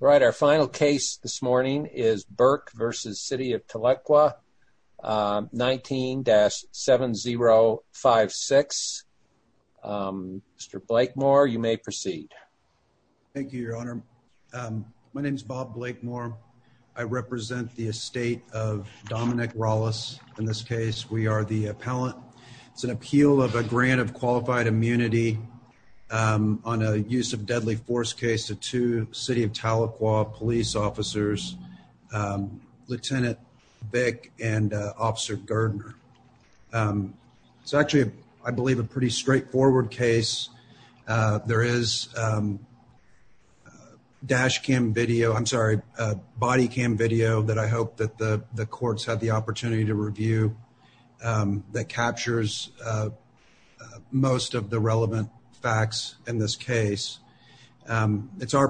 right our final case this morning is Burke versus City of Tahlequah 19-7056 Mr. Blakemore you may proceed thank you your honor my name is Bob Blakemore I represent the estate of Dominic Rollis in this case we are the appellant it's an appeal of a grant of qualified immunity on a use of deadly force case to City of Tahlequah police officers lieutenant Vic and officer Gardner it's actually I believe a pretty straightforward case there is dash cam video I'm sorry body cam video that I hope that the the courts have the our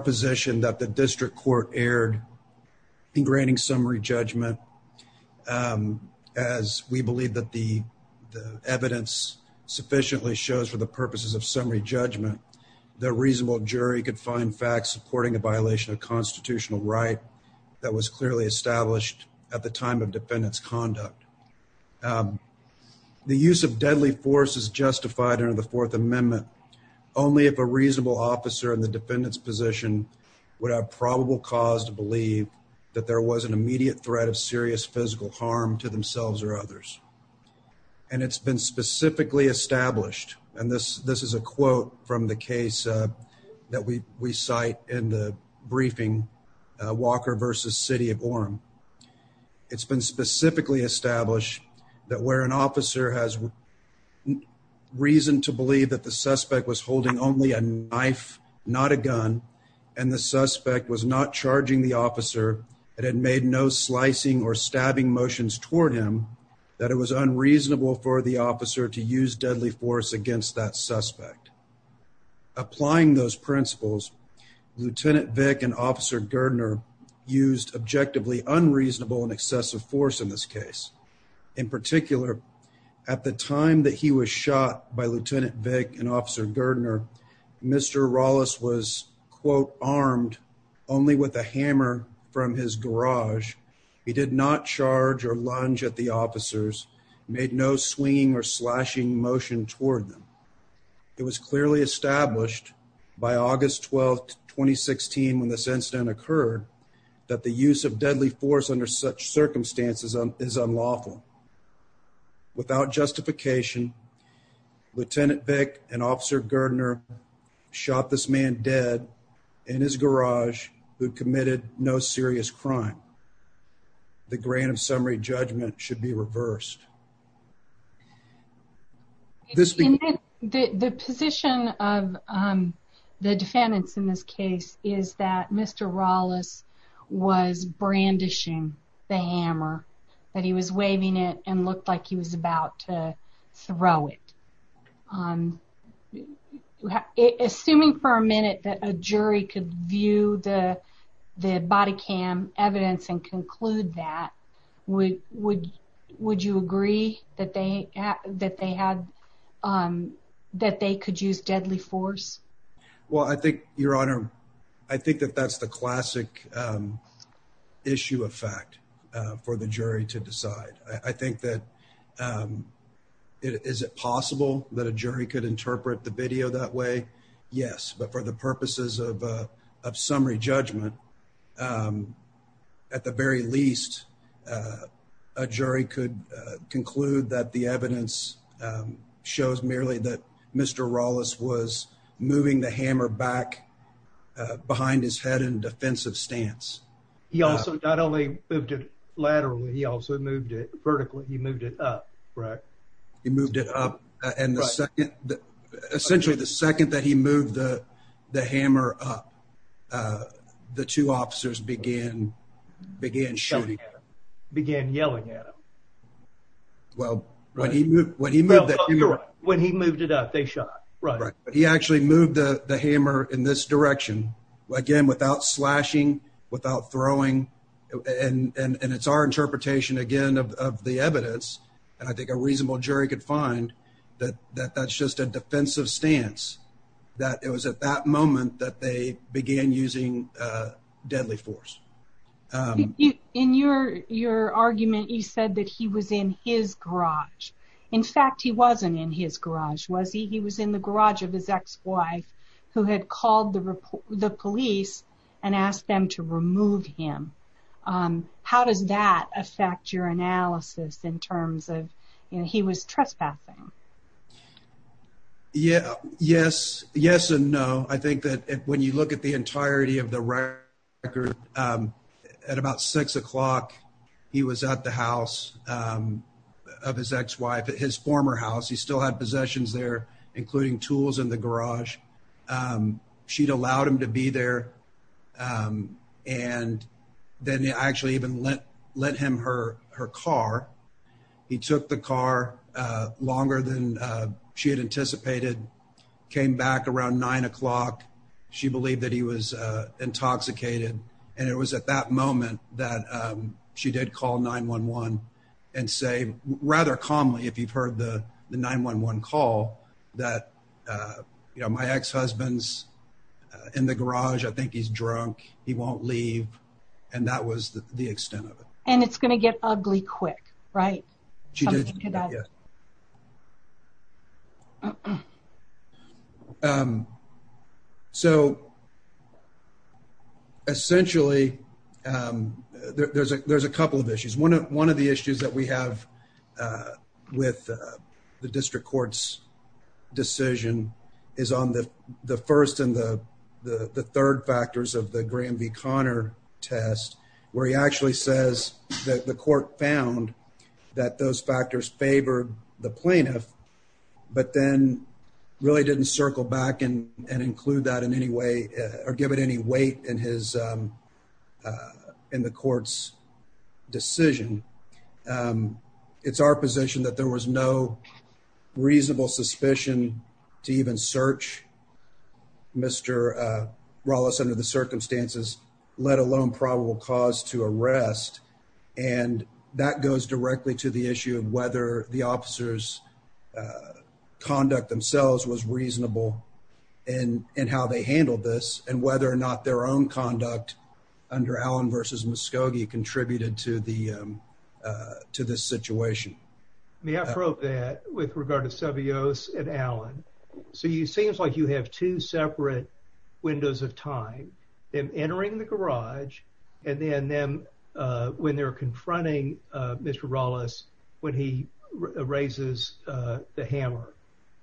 position that the district court erred in granting summary judgment as we believe that the evidence sufficiently shows for the purposes of summary judgment the reasonable jury could find facts supporting a violation of constitutional right that was clearly established at the time of defendants conduct the use of deadly force is justified under the Fourth Amendment only if a reasonable officer in the defendants position would have probable cause to believe that there was an immediate threat of serious physical harm to themselves or others and it's been specifically established and this this is a quote from the case that we we cite in the briefing Walker versus City of Orem it's been specifically established that where an officer has reason to believe that the suspect was holding only a knife not a gun and the suspect was not charging the officer it had made no slicing or stabbing motions toward him that it was unreasonable for the officer to use deadly force against that suspect applying those principles lieutenant Vic and officer Gardner used objectively unreasonable and excessive force in this case in particular at the time that he was shot by lieutenant Vic and officer Gardner mr. Rollins was quote armed only with a hammer from his garage he did not charge or lunge at the officers made no swinging or slashing motion toward them it was clearly established by August 12th 2016 when this incident occurred that the use of lieutenant Vic and officer Gardner shot this man dead in his garage who committed no serious crime the grant of summary judgment should be reversed this the position of the defendants in this case is that mr. Rollins was brandishing the throw it on assuming for a minute that a jury could view the the body cam evidence and conclude that we would would you agree that they that they had that they could use deadly force well I think your honor I think that that's the is it possible that a jury could interpret the video that way yes but for the purposes of summary judgment at the very least a jury could conclude that the evidence shows merely that mr. Rollins was moving the hammer back behind his head and defensive stance he also not only moved it laterally he also moved it vertically he moved it up right he moved it up and the second essentially the second that he moved the the hammer up the two officers began began shooting began yelling at him well when he moved when he moved it up they shot right he actually moved the the hammer in this direction again without slashing without throwing and and it's our interpretation again of the evidence and I think a reasonable jury could find that that that's just a defensive stance that it was at that moment that they began using deadly force in your your argument you said that he was in his garage in fact he wasn't in his garage was he he was in the garage of his ex-wife who had called the report the police and asked them to remove him how does that affect your analysis in terms of you know he was trespassing yeah yes yes and no I think that when you look at the entirety of the record at about six o'clock he was at the house of his ex-wife at his former house he still had possessions there including tools in the garage she'd allowed him to be there and then they actually even let let him her her car he took the car longer than she had anticipated came back around nine o'clock she believed that he was intoxicated and it was at that moment that she did call 9-1-1 and say rather calmly if you've heard the 9-1-1 call that you know my ex-husband's in the garage I think he's drunk he won't leave and that was the extent of it and it's gonna get ugly quick right so essentially there's a there's a couple of issues one of one of the issues that we have with the district courts decision is on the the first and the the third factors of the Graham v Connor test where he actually says that the court found that those factors favored the plaintiff but then really didn't circle back in and include that in any way or give it any weight in his in the court's decision it's our position that there was no reasonable suspicion to even search mr. Wallace under the circumstances let alone probable cause to arrest and that goes directly to the issue of whether the officers conduct themselves was reasonable and and how they handled this and whether or not their own conduct under Allen versus Muskogee contributed to the to this situation me I wrote that with regard to Savio's and Alan so you seems like you have two separate windows of time then entering the garage and then them when they're confronting mr. Wallace when he raises the hammer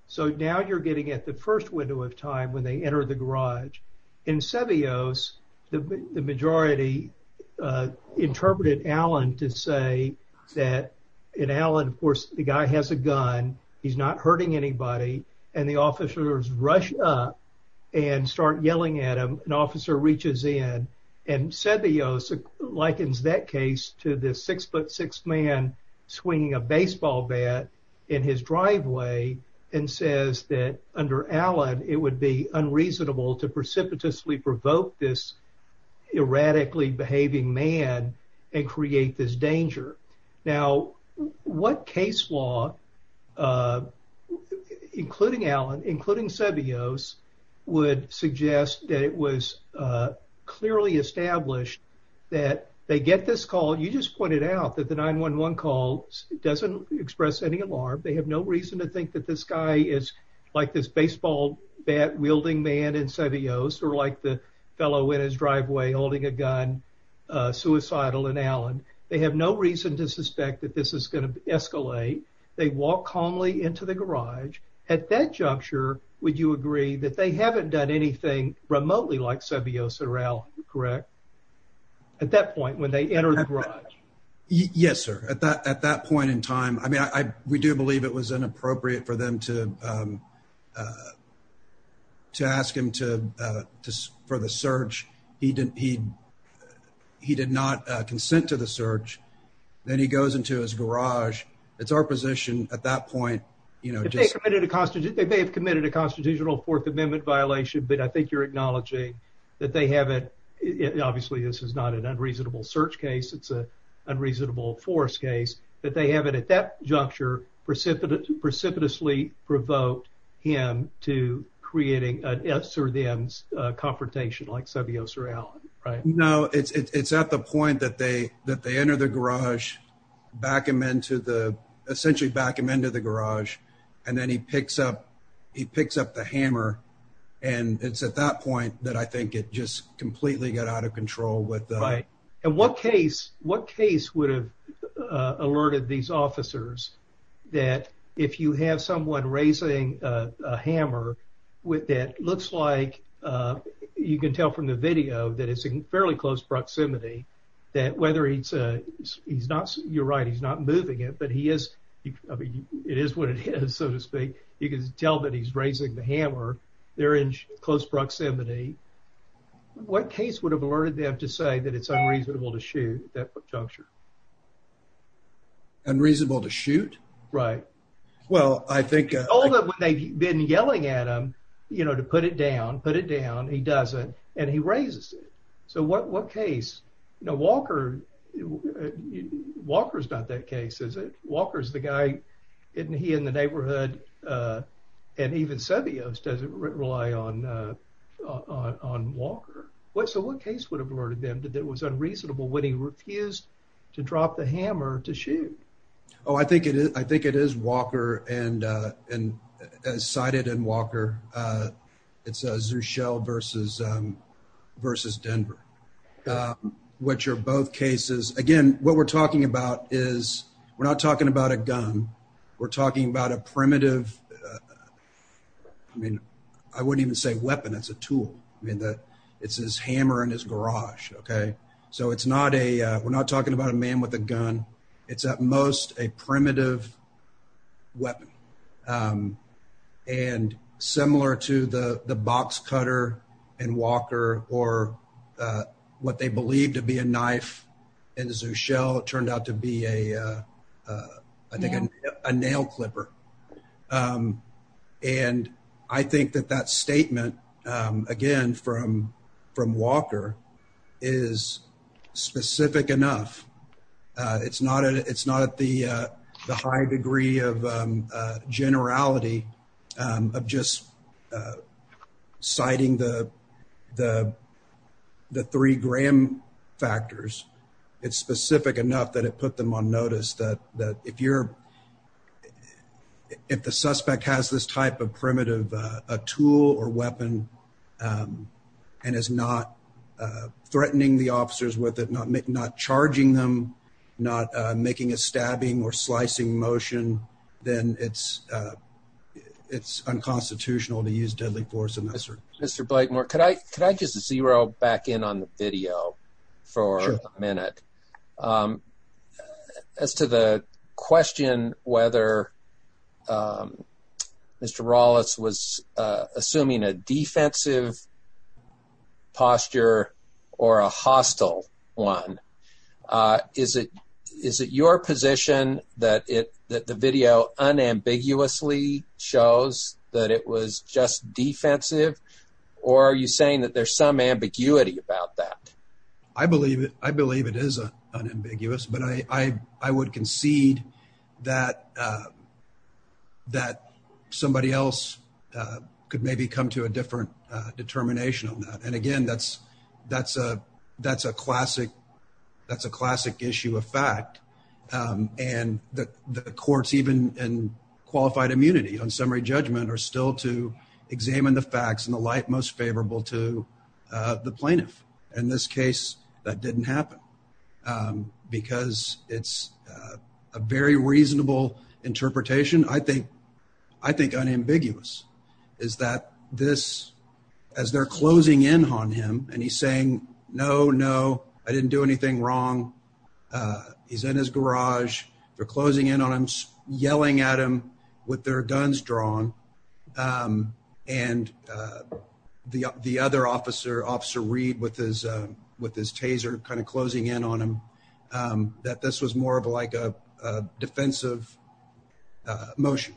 so now you're getting at the first window of time when they enter the garage in Savio's the majority interpreted Allen to say that in Allen of course the guy has a gun he's not hurting anybody and the officers rush up and start yelling at him an officer reaches in and said the yosa likens that case to this six-foot six man swinging a baseball bat in his reasonable to precipitously provoke this erratically behaving man and create this danger now what case law including Allen including Savio's would suggest that it was clearly established that they get this call you just pointed out that the 9-1-1 calls doesn't express any alarm they have no reason to think that this guy is like this baseball bat wielding man in Savio's or like the fellow in his driveway holding a gun suicidal in Allen they have no reason to suspect that this is going to escalate they walk calmly into the garage at that juncture would you agree that they haven't done anything remotely like Savio's around correct at that point when they enter the garage yes sir at that at that point in time I mean I we do believe it was inappropriate for them to to ask him to for the search he didn't he he did not consent to the search then he goes into his garage it's our position at that point you know just committed a constitute they may have committed a constitutional Fourth Amendment violation but I think you're acknowledging that they have it obviously this is not an unreasonable search case it's a unreasonable force case that they have it at that juncture precipitate precipitously provoked him to creating an S or the M's confrontation like Savio sir Alan right no it's it's at the point that they that they enter the garage back him into the essentially back him into the garage and then he picks up he picks up the hammer and it's at that point that I think it just completely got out of control with right and what case what case would have alerted these officers that if you have someone raising a hammer with that looks like you can tell from the video that it's a fairly close proximity that whether it's a he's not you're right he's not moving it but he is it is what it is so to speak you can tell that he's raising the hammer they're in close proximity what case would have alerted them to say that it's unreasonable to shoot that juncture unreasonable to shoot right well I think all that they've been yelling at him you know to put it down put it down he doesn't and he raises it so what what case you know Walker Walker's not that case is it Walker's the guy isn't he in the neighborhood and even said the O's doesn't rely on on Walker what so what case would have alerted them to that was unreasonable when he refused to drop the hammer to shoot oh I think it is I think it is Walker and and as cited in Walker it's a zoo shell versus versus Denver which are both cases again what we're talking about is we're not talking about a gun we're talking about a primitive I mean I wouldn't even say weapon it's a tool I mean that it's his hammer in his garage okay so it's not a we're not talking about a man with a gun it's at most a primitive weapon and similar to the the box cutter and Walker or what they believe to be a knife and as a shell it turned out to be a I think a nail clipper and I think that that statement again from from Walker is specific enough it's not it's not at the the high degree of generality of just citing the the the three Graham factors it's specific enough that it put them on notice that that if you're if the suspect has this type of primitive a tool or weapon and is not threatening the officers with it not make not charging them not making a stabbing or slicing motion then it's it's unconstitutional to use deadly force in this sir mr. Blake more could I could I use the zero back in on the video for a minute as to the question whether mr. Rawlitz was assuming a defensive posture or a hostile one is it is it your position that it that the video unambiguously shows that it was just defensive or are you saying that there's some ambiguity about that I believe it I believe it is a unambiguous but I I would concede that that somebody else could maybe come to a different determination on that and again that's that's a that's a classic that's a classic issue of fact and the courts even in qualified immunity on summary judgment are still to examine the facts and the light most favorable to the plaintiff in this case that didn't happen because it's a very reasonable interpretation I think I think unambiguous is that this as they're closing in on him and he's saying no no I didn't do anything wrong he's in his garage they're closing in on him yelling at him with their guns drawn and the the other officer officer read with his with his taser kind of closing in on him that this was more of like a defensive motion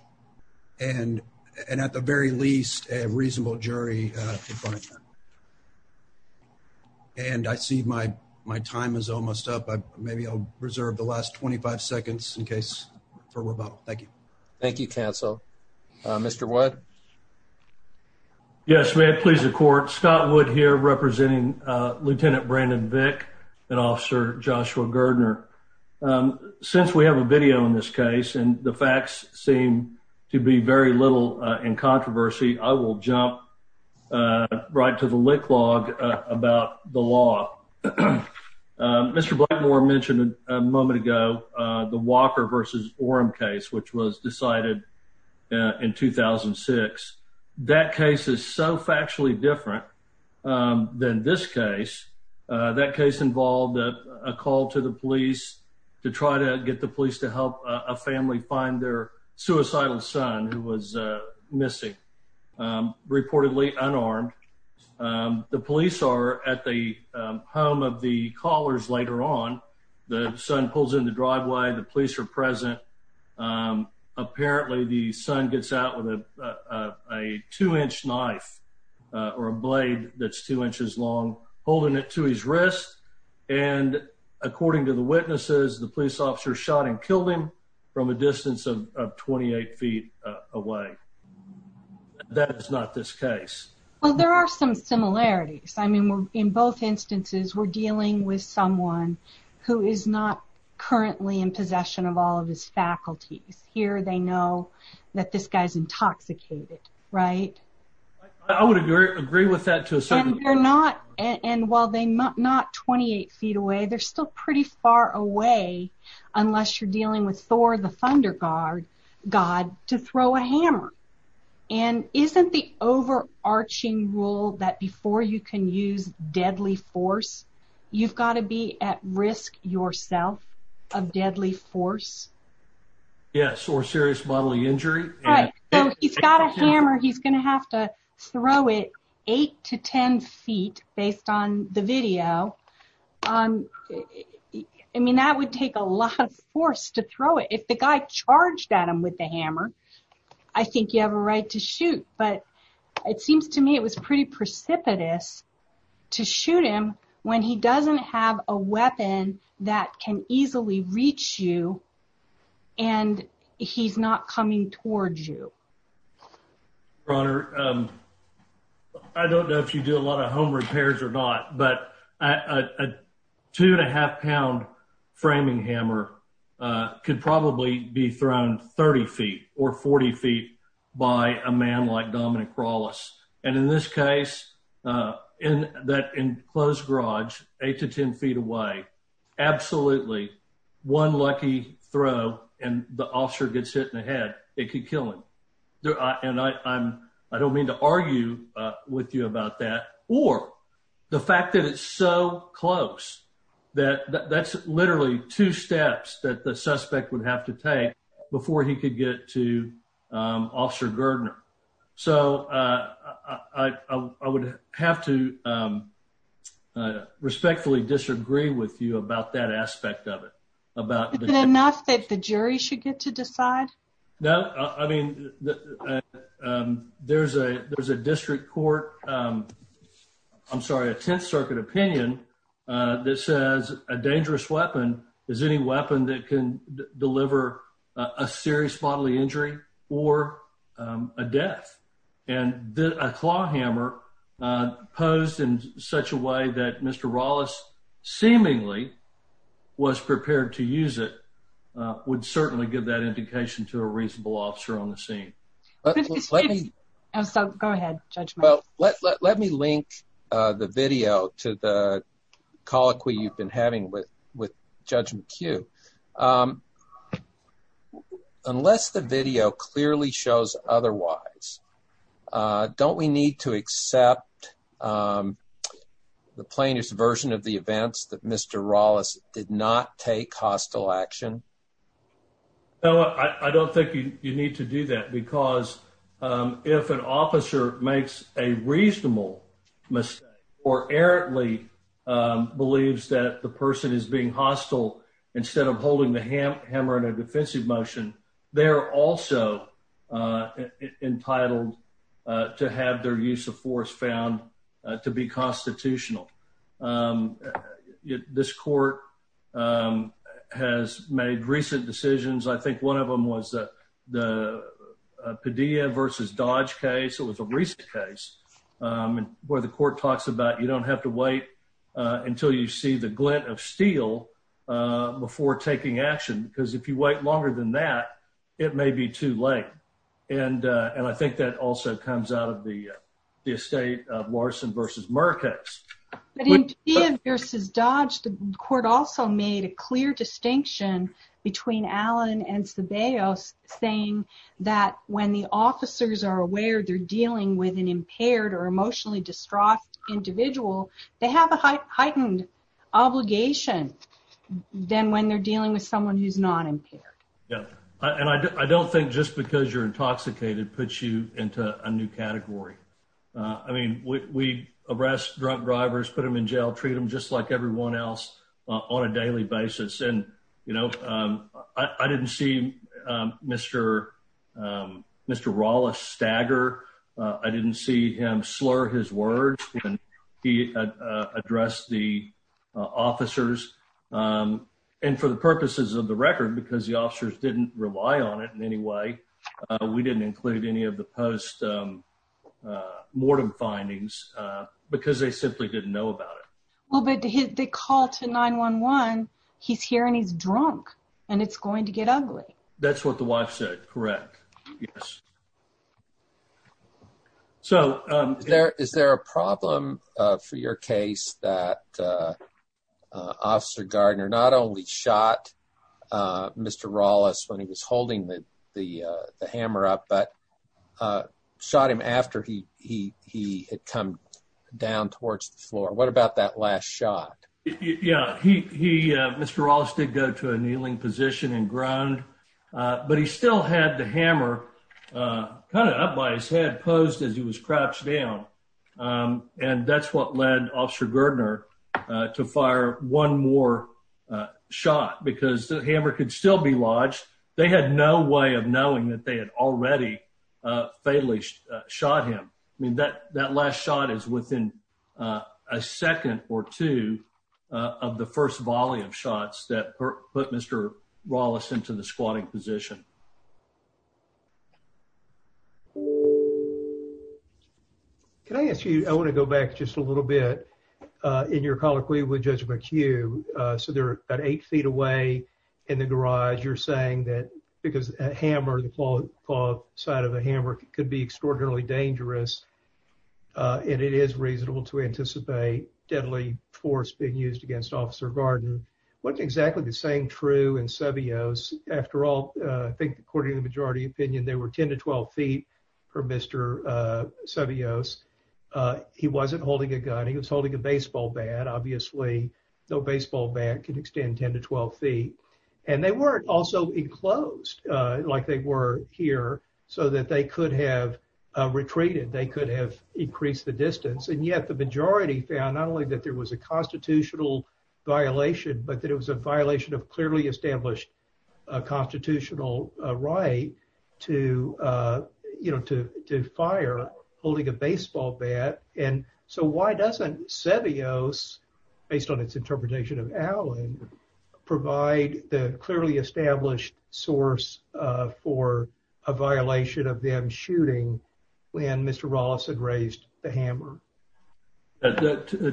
and and at the very least a reasonable jury and I see my my time is almost up I maybe I'll reserve the last 25 seconds in case for rebuttal thank you thank you counsel mr. what yes may it please the court Scott would here representing lieutenant Brandon Vic and officer Joshua Gerdner since we have a video in this case and the facts seem to be very little in law mr. Blackmore mentioned a moment ago the Walker versus Oram case which was decided in 2006 that case is so factually different than this case that case involved a call to the police to try to get the police to help a family find their suicidal son who was missing reportedly unarmed the police are at the home of the callers later on the son pulls in the driveway the police are present apparently the son gets out with a two-inch knife or a blade that's two inches long holding it to his wrist and according to the witnesses the police officer shot and killed him from a distance of 28 feet away that is not this case well there are some similarities I mean we're in both instances we're dealing with someone who is not currently in possession of all of his faculties here they know that this guy's intoxicated right I would agree with that too so they're not and while they might not 28 feet away they're still pretty far away unless you're dealing with Thor the overarching rule that before you can use deadly force you've got to be at risk yourself of deadly force yes or serious bodily injury he's got a hammer he's gonna have to throw it eight to ten feet based on the video I mean that would take a lot of force to throw it if the guy charged at him with the hammer I it seems to me it was pretty precipitous to shoot him when he doesn't have a weapon that can easily reach you and he's not coming towards you runner I don't know if you do a lot of home repairs or not but a two and a half pound framing hammer could probably be thrown 30 feet or 40 feet by a man like and in this case in that enclosed garage eight to ten feet away absolutely one lucky throw and the officer gets hit in the head it could kill him and I'm I don't mean to argue with you about that or the fact that it's so close that that's literally two steps that the suspect would have to take before he could get to officer Gerdner so I would have to respectfully disagree with you about that aspect of it about enough that the jury should get to decide no I mean there's a there's a district court I'm sorry a Tenth Circuit opinion that says a dangerous weapon is any weapon that can deliver a serious bodily injury or a death and did a claw hammer posed in such a way that mr. Wallace seemingly was prepared to use it would certainly give that indication to a reasonable officer on the scene so go ahead well let me link the video to the colloquy you've been having with with judge McHugh unless the video clearly shows otherwise don't we need to accept the plainest version of the events that mr. Wallace did not take hostile action no I don't think you need to do that because if an officer makes a reasonable mistake or errantly believes that the person is being hostile instead of holding the hammer in a defensive motion they're also entitled to have their use of force found to be constitutional this court has made recent decisions I think one of them was the Padilla vs. Dodge case it was a recent case and where the court talks about you don't have to wait until you see the glint of steel before taking action because if you wait longer than that it may be too late and and I think that also comes out of the estate of Larson vs. Murcase. In Padilla vs. Dodge the saying that when the officers are aware they're dealing with an impaired or emotionally distraught individual they have a heightened obligation than when they're dealing with someone who's not impaired yeah and I don't think just because you're intoxicated puts you into a new category I mean we arrest drunk drivers put them in jail treat them just like everyone else on a daily basis and you know I didn't see mr. mr. Rolla stagger I didn't see him slur his words and he addressed the officers and for the purposes of the record because the officers didn't rely on it in any way we didn't include any of the post-mortem findings because they simply didn't know about it. Well but they call to 911 he's here and he's drunk and it's going to get ugly. That's what the wife said correct yes so there is there a problem for your case that officer Gardner not only shot mr. Rawless when he was holding the the hammer up but shot him after he he he had come down towards the floor what about that last shot yeah he mr. Rawless did go to a kneeling position and groaned but he still had the hammer kind of up by his head posed as he was crouched down and that's what led officer Gardner to fire one more shot because the hammer could still be lodged they had no way of knowing that they had shot him I mean that that last shot is within a second or two of the first volley of shots that put mr. Rawless into the squatting position. Can I ask you I want to go back just a little bit in your colloquy with Judge McHugh so they're at eight feet away in the garage you're saying that because a hammer the side of a hammer could be extraordinarily dangerous and it is reasonable to anticipate deadly force being used against officer Gardner what exactly the same true in Seveos after all I think according to the majority opinion they were 10 to 12 feet for mr. Seveos he wasn't holding a gun he was holding a baseball bat obviously no baseball bat can extend 10 to 12 feet and they weren't also enclosed like they were here so that they could have retreated they could have increased the distance and yet the majority found not only that there was a constitutional violation but that it was a violation of clearly established constitutional right to you know to to fire holding a baseball bat and so why doesn't Seveos based on its interpretation of Allen provide the clearly established source for a violation of them shooting when mr. Rawless had raised the hammer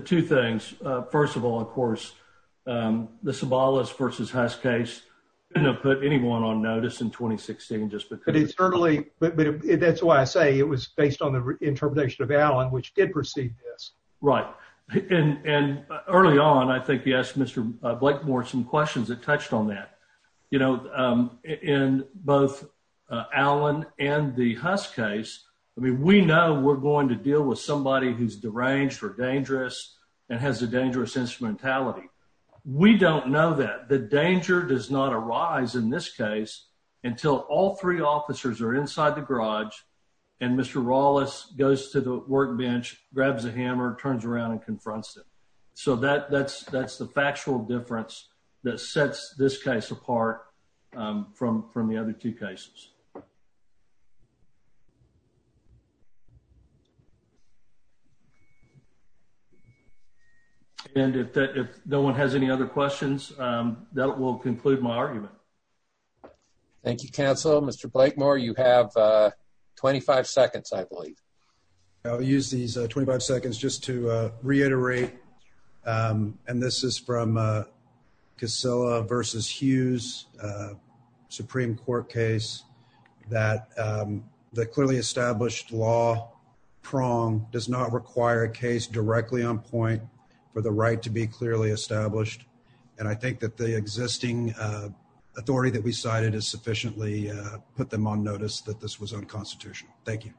two things first of all of course the Sabalas vs. Hest case you know put anyone on notice in 2016 just but it's early but that's why I say it was based on the interpretation of Allen which did yes right and early on I think yes mr. Blake more some questions that touched on that you know in both Allen and the husk case I mean we know we're going to deal with somebody who's deranged or dangerous and has a dangerous instrumentality we don't know that the danger does not arise in this case until all three officers are inside the garage and mr. Rawless goes to the workbench grabs a hammer turns around and confronts it so that that's that's the factual difference that sets this case apart from from the other two cases and if that if no one has any other questions that will conclude my argument thank you counsel mr. Blake more you have 25 seconds I believe I'll use these 25 seconds just to reiterate and this is from Casilla versus Hughes Supreme Court case that the clearly established law prong does not require a case directly on point for the right to be clearly established and I think that the existing authority that we cited is sufficiently put them on notice that this was unconstitutional thank you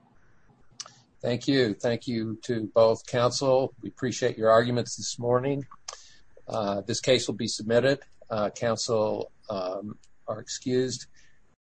thank you thank you to both counsel we appreciate your arguments this morning this case will be submitted counsel are excused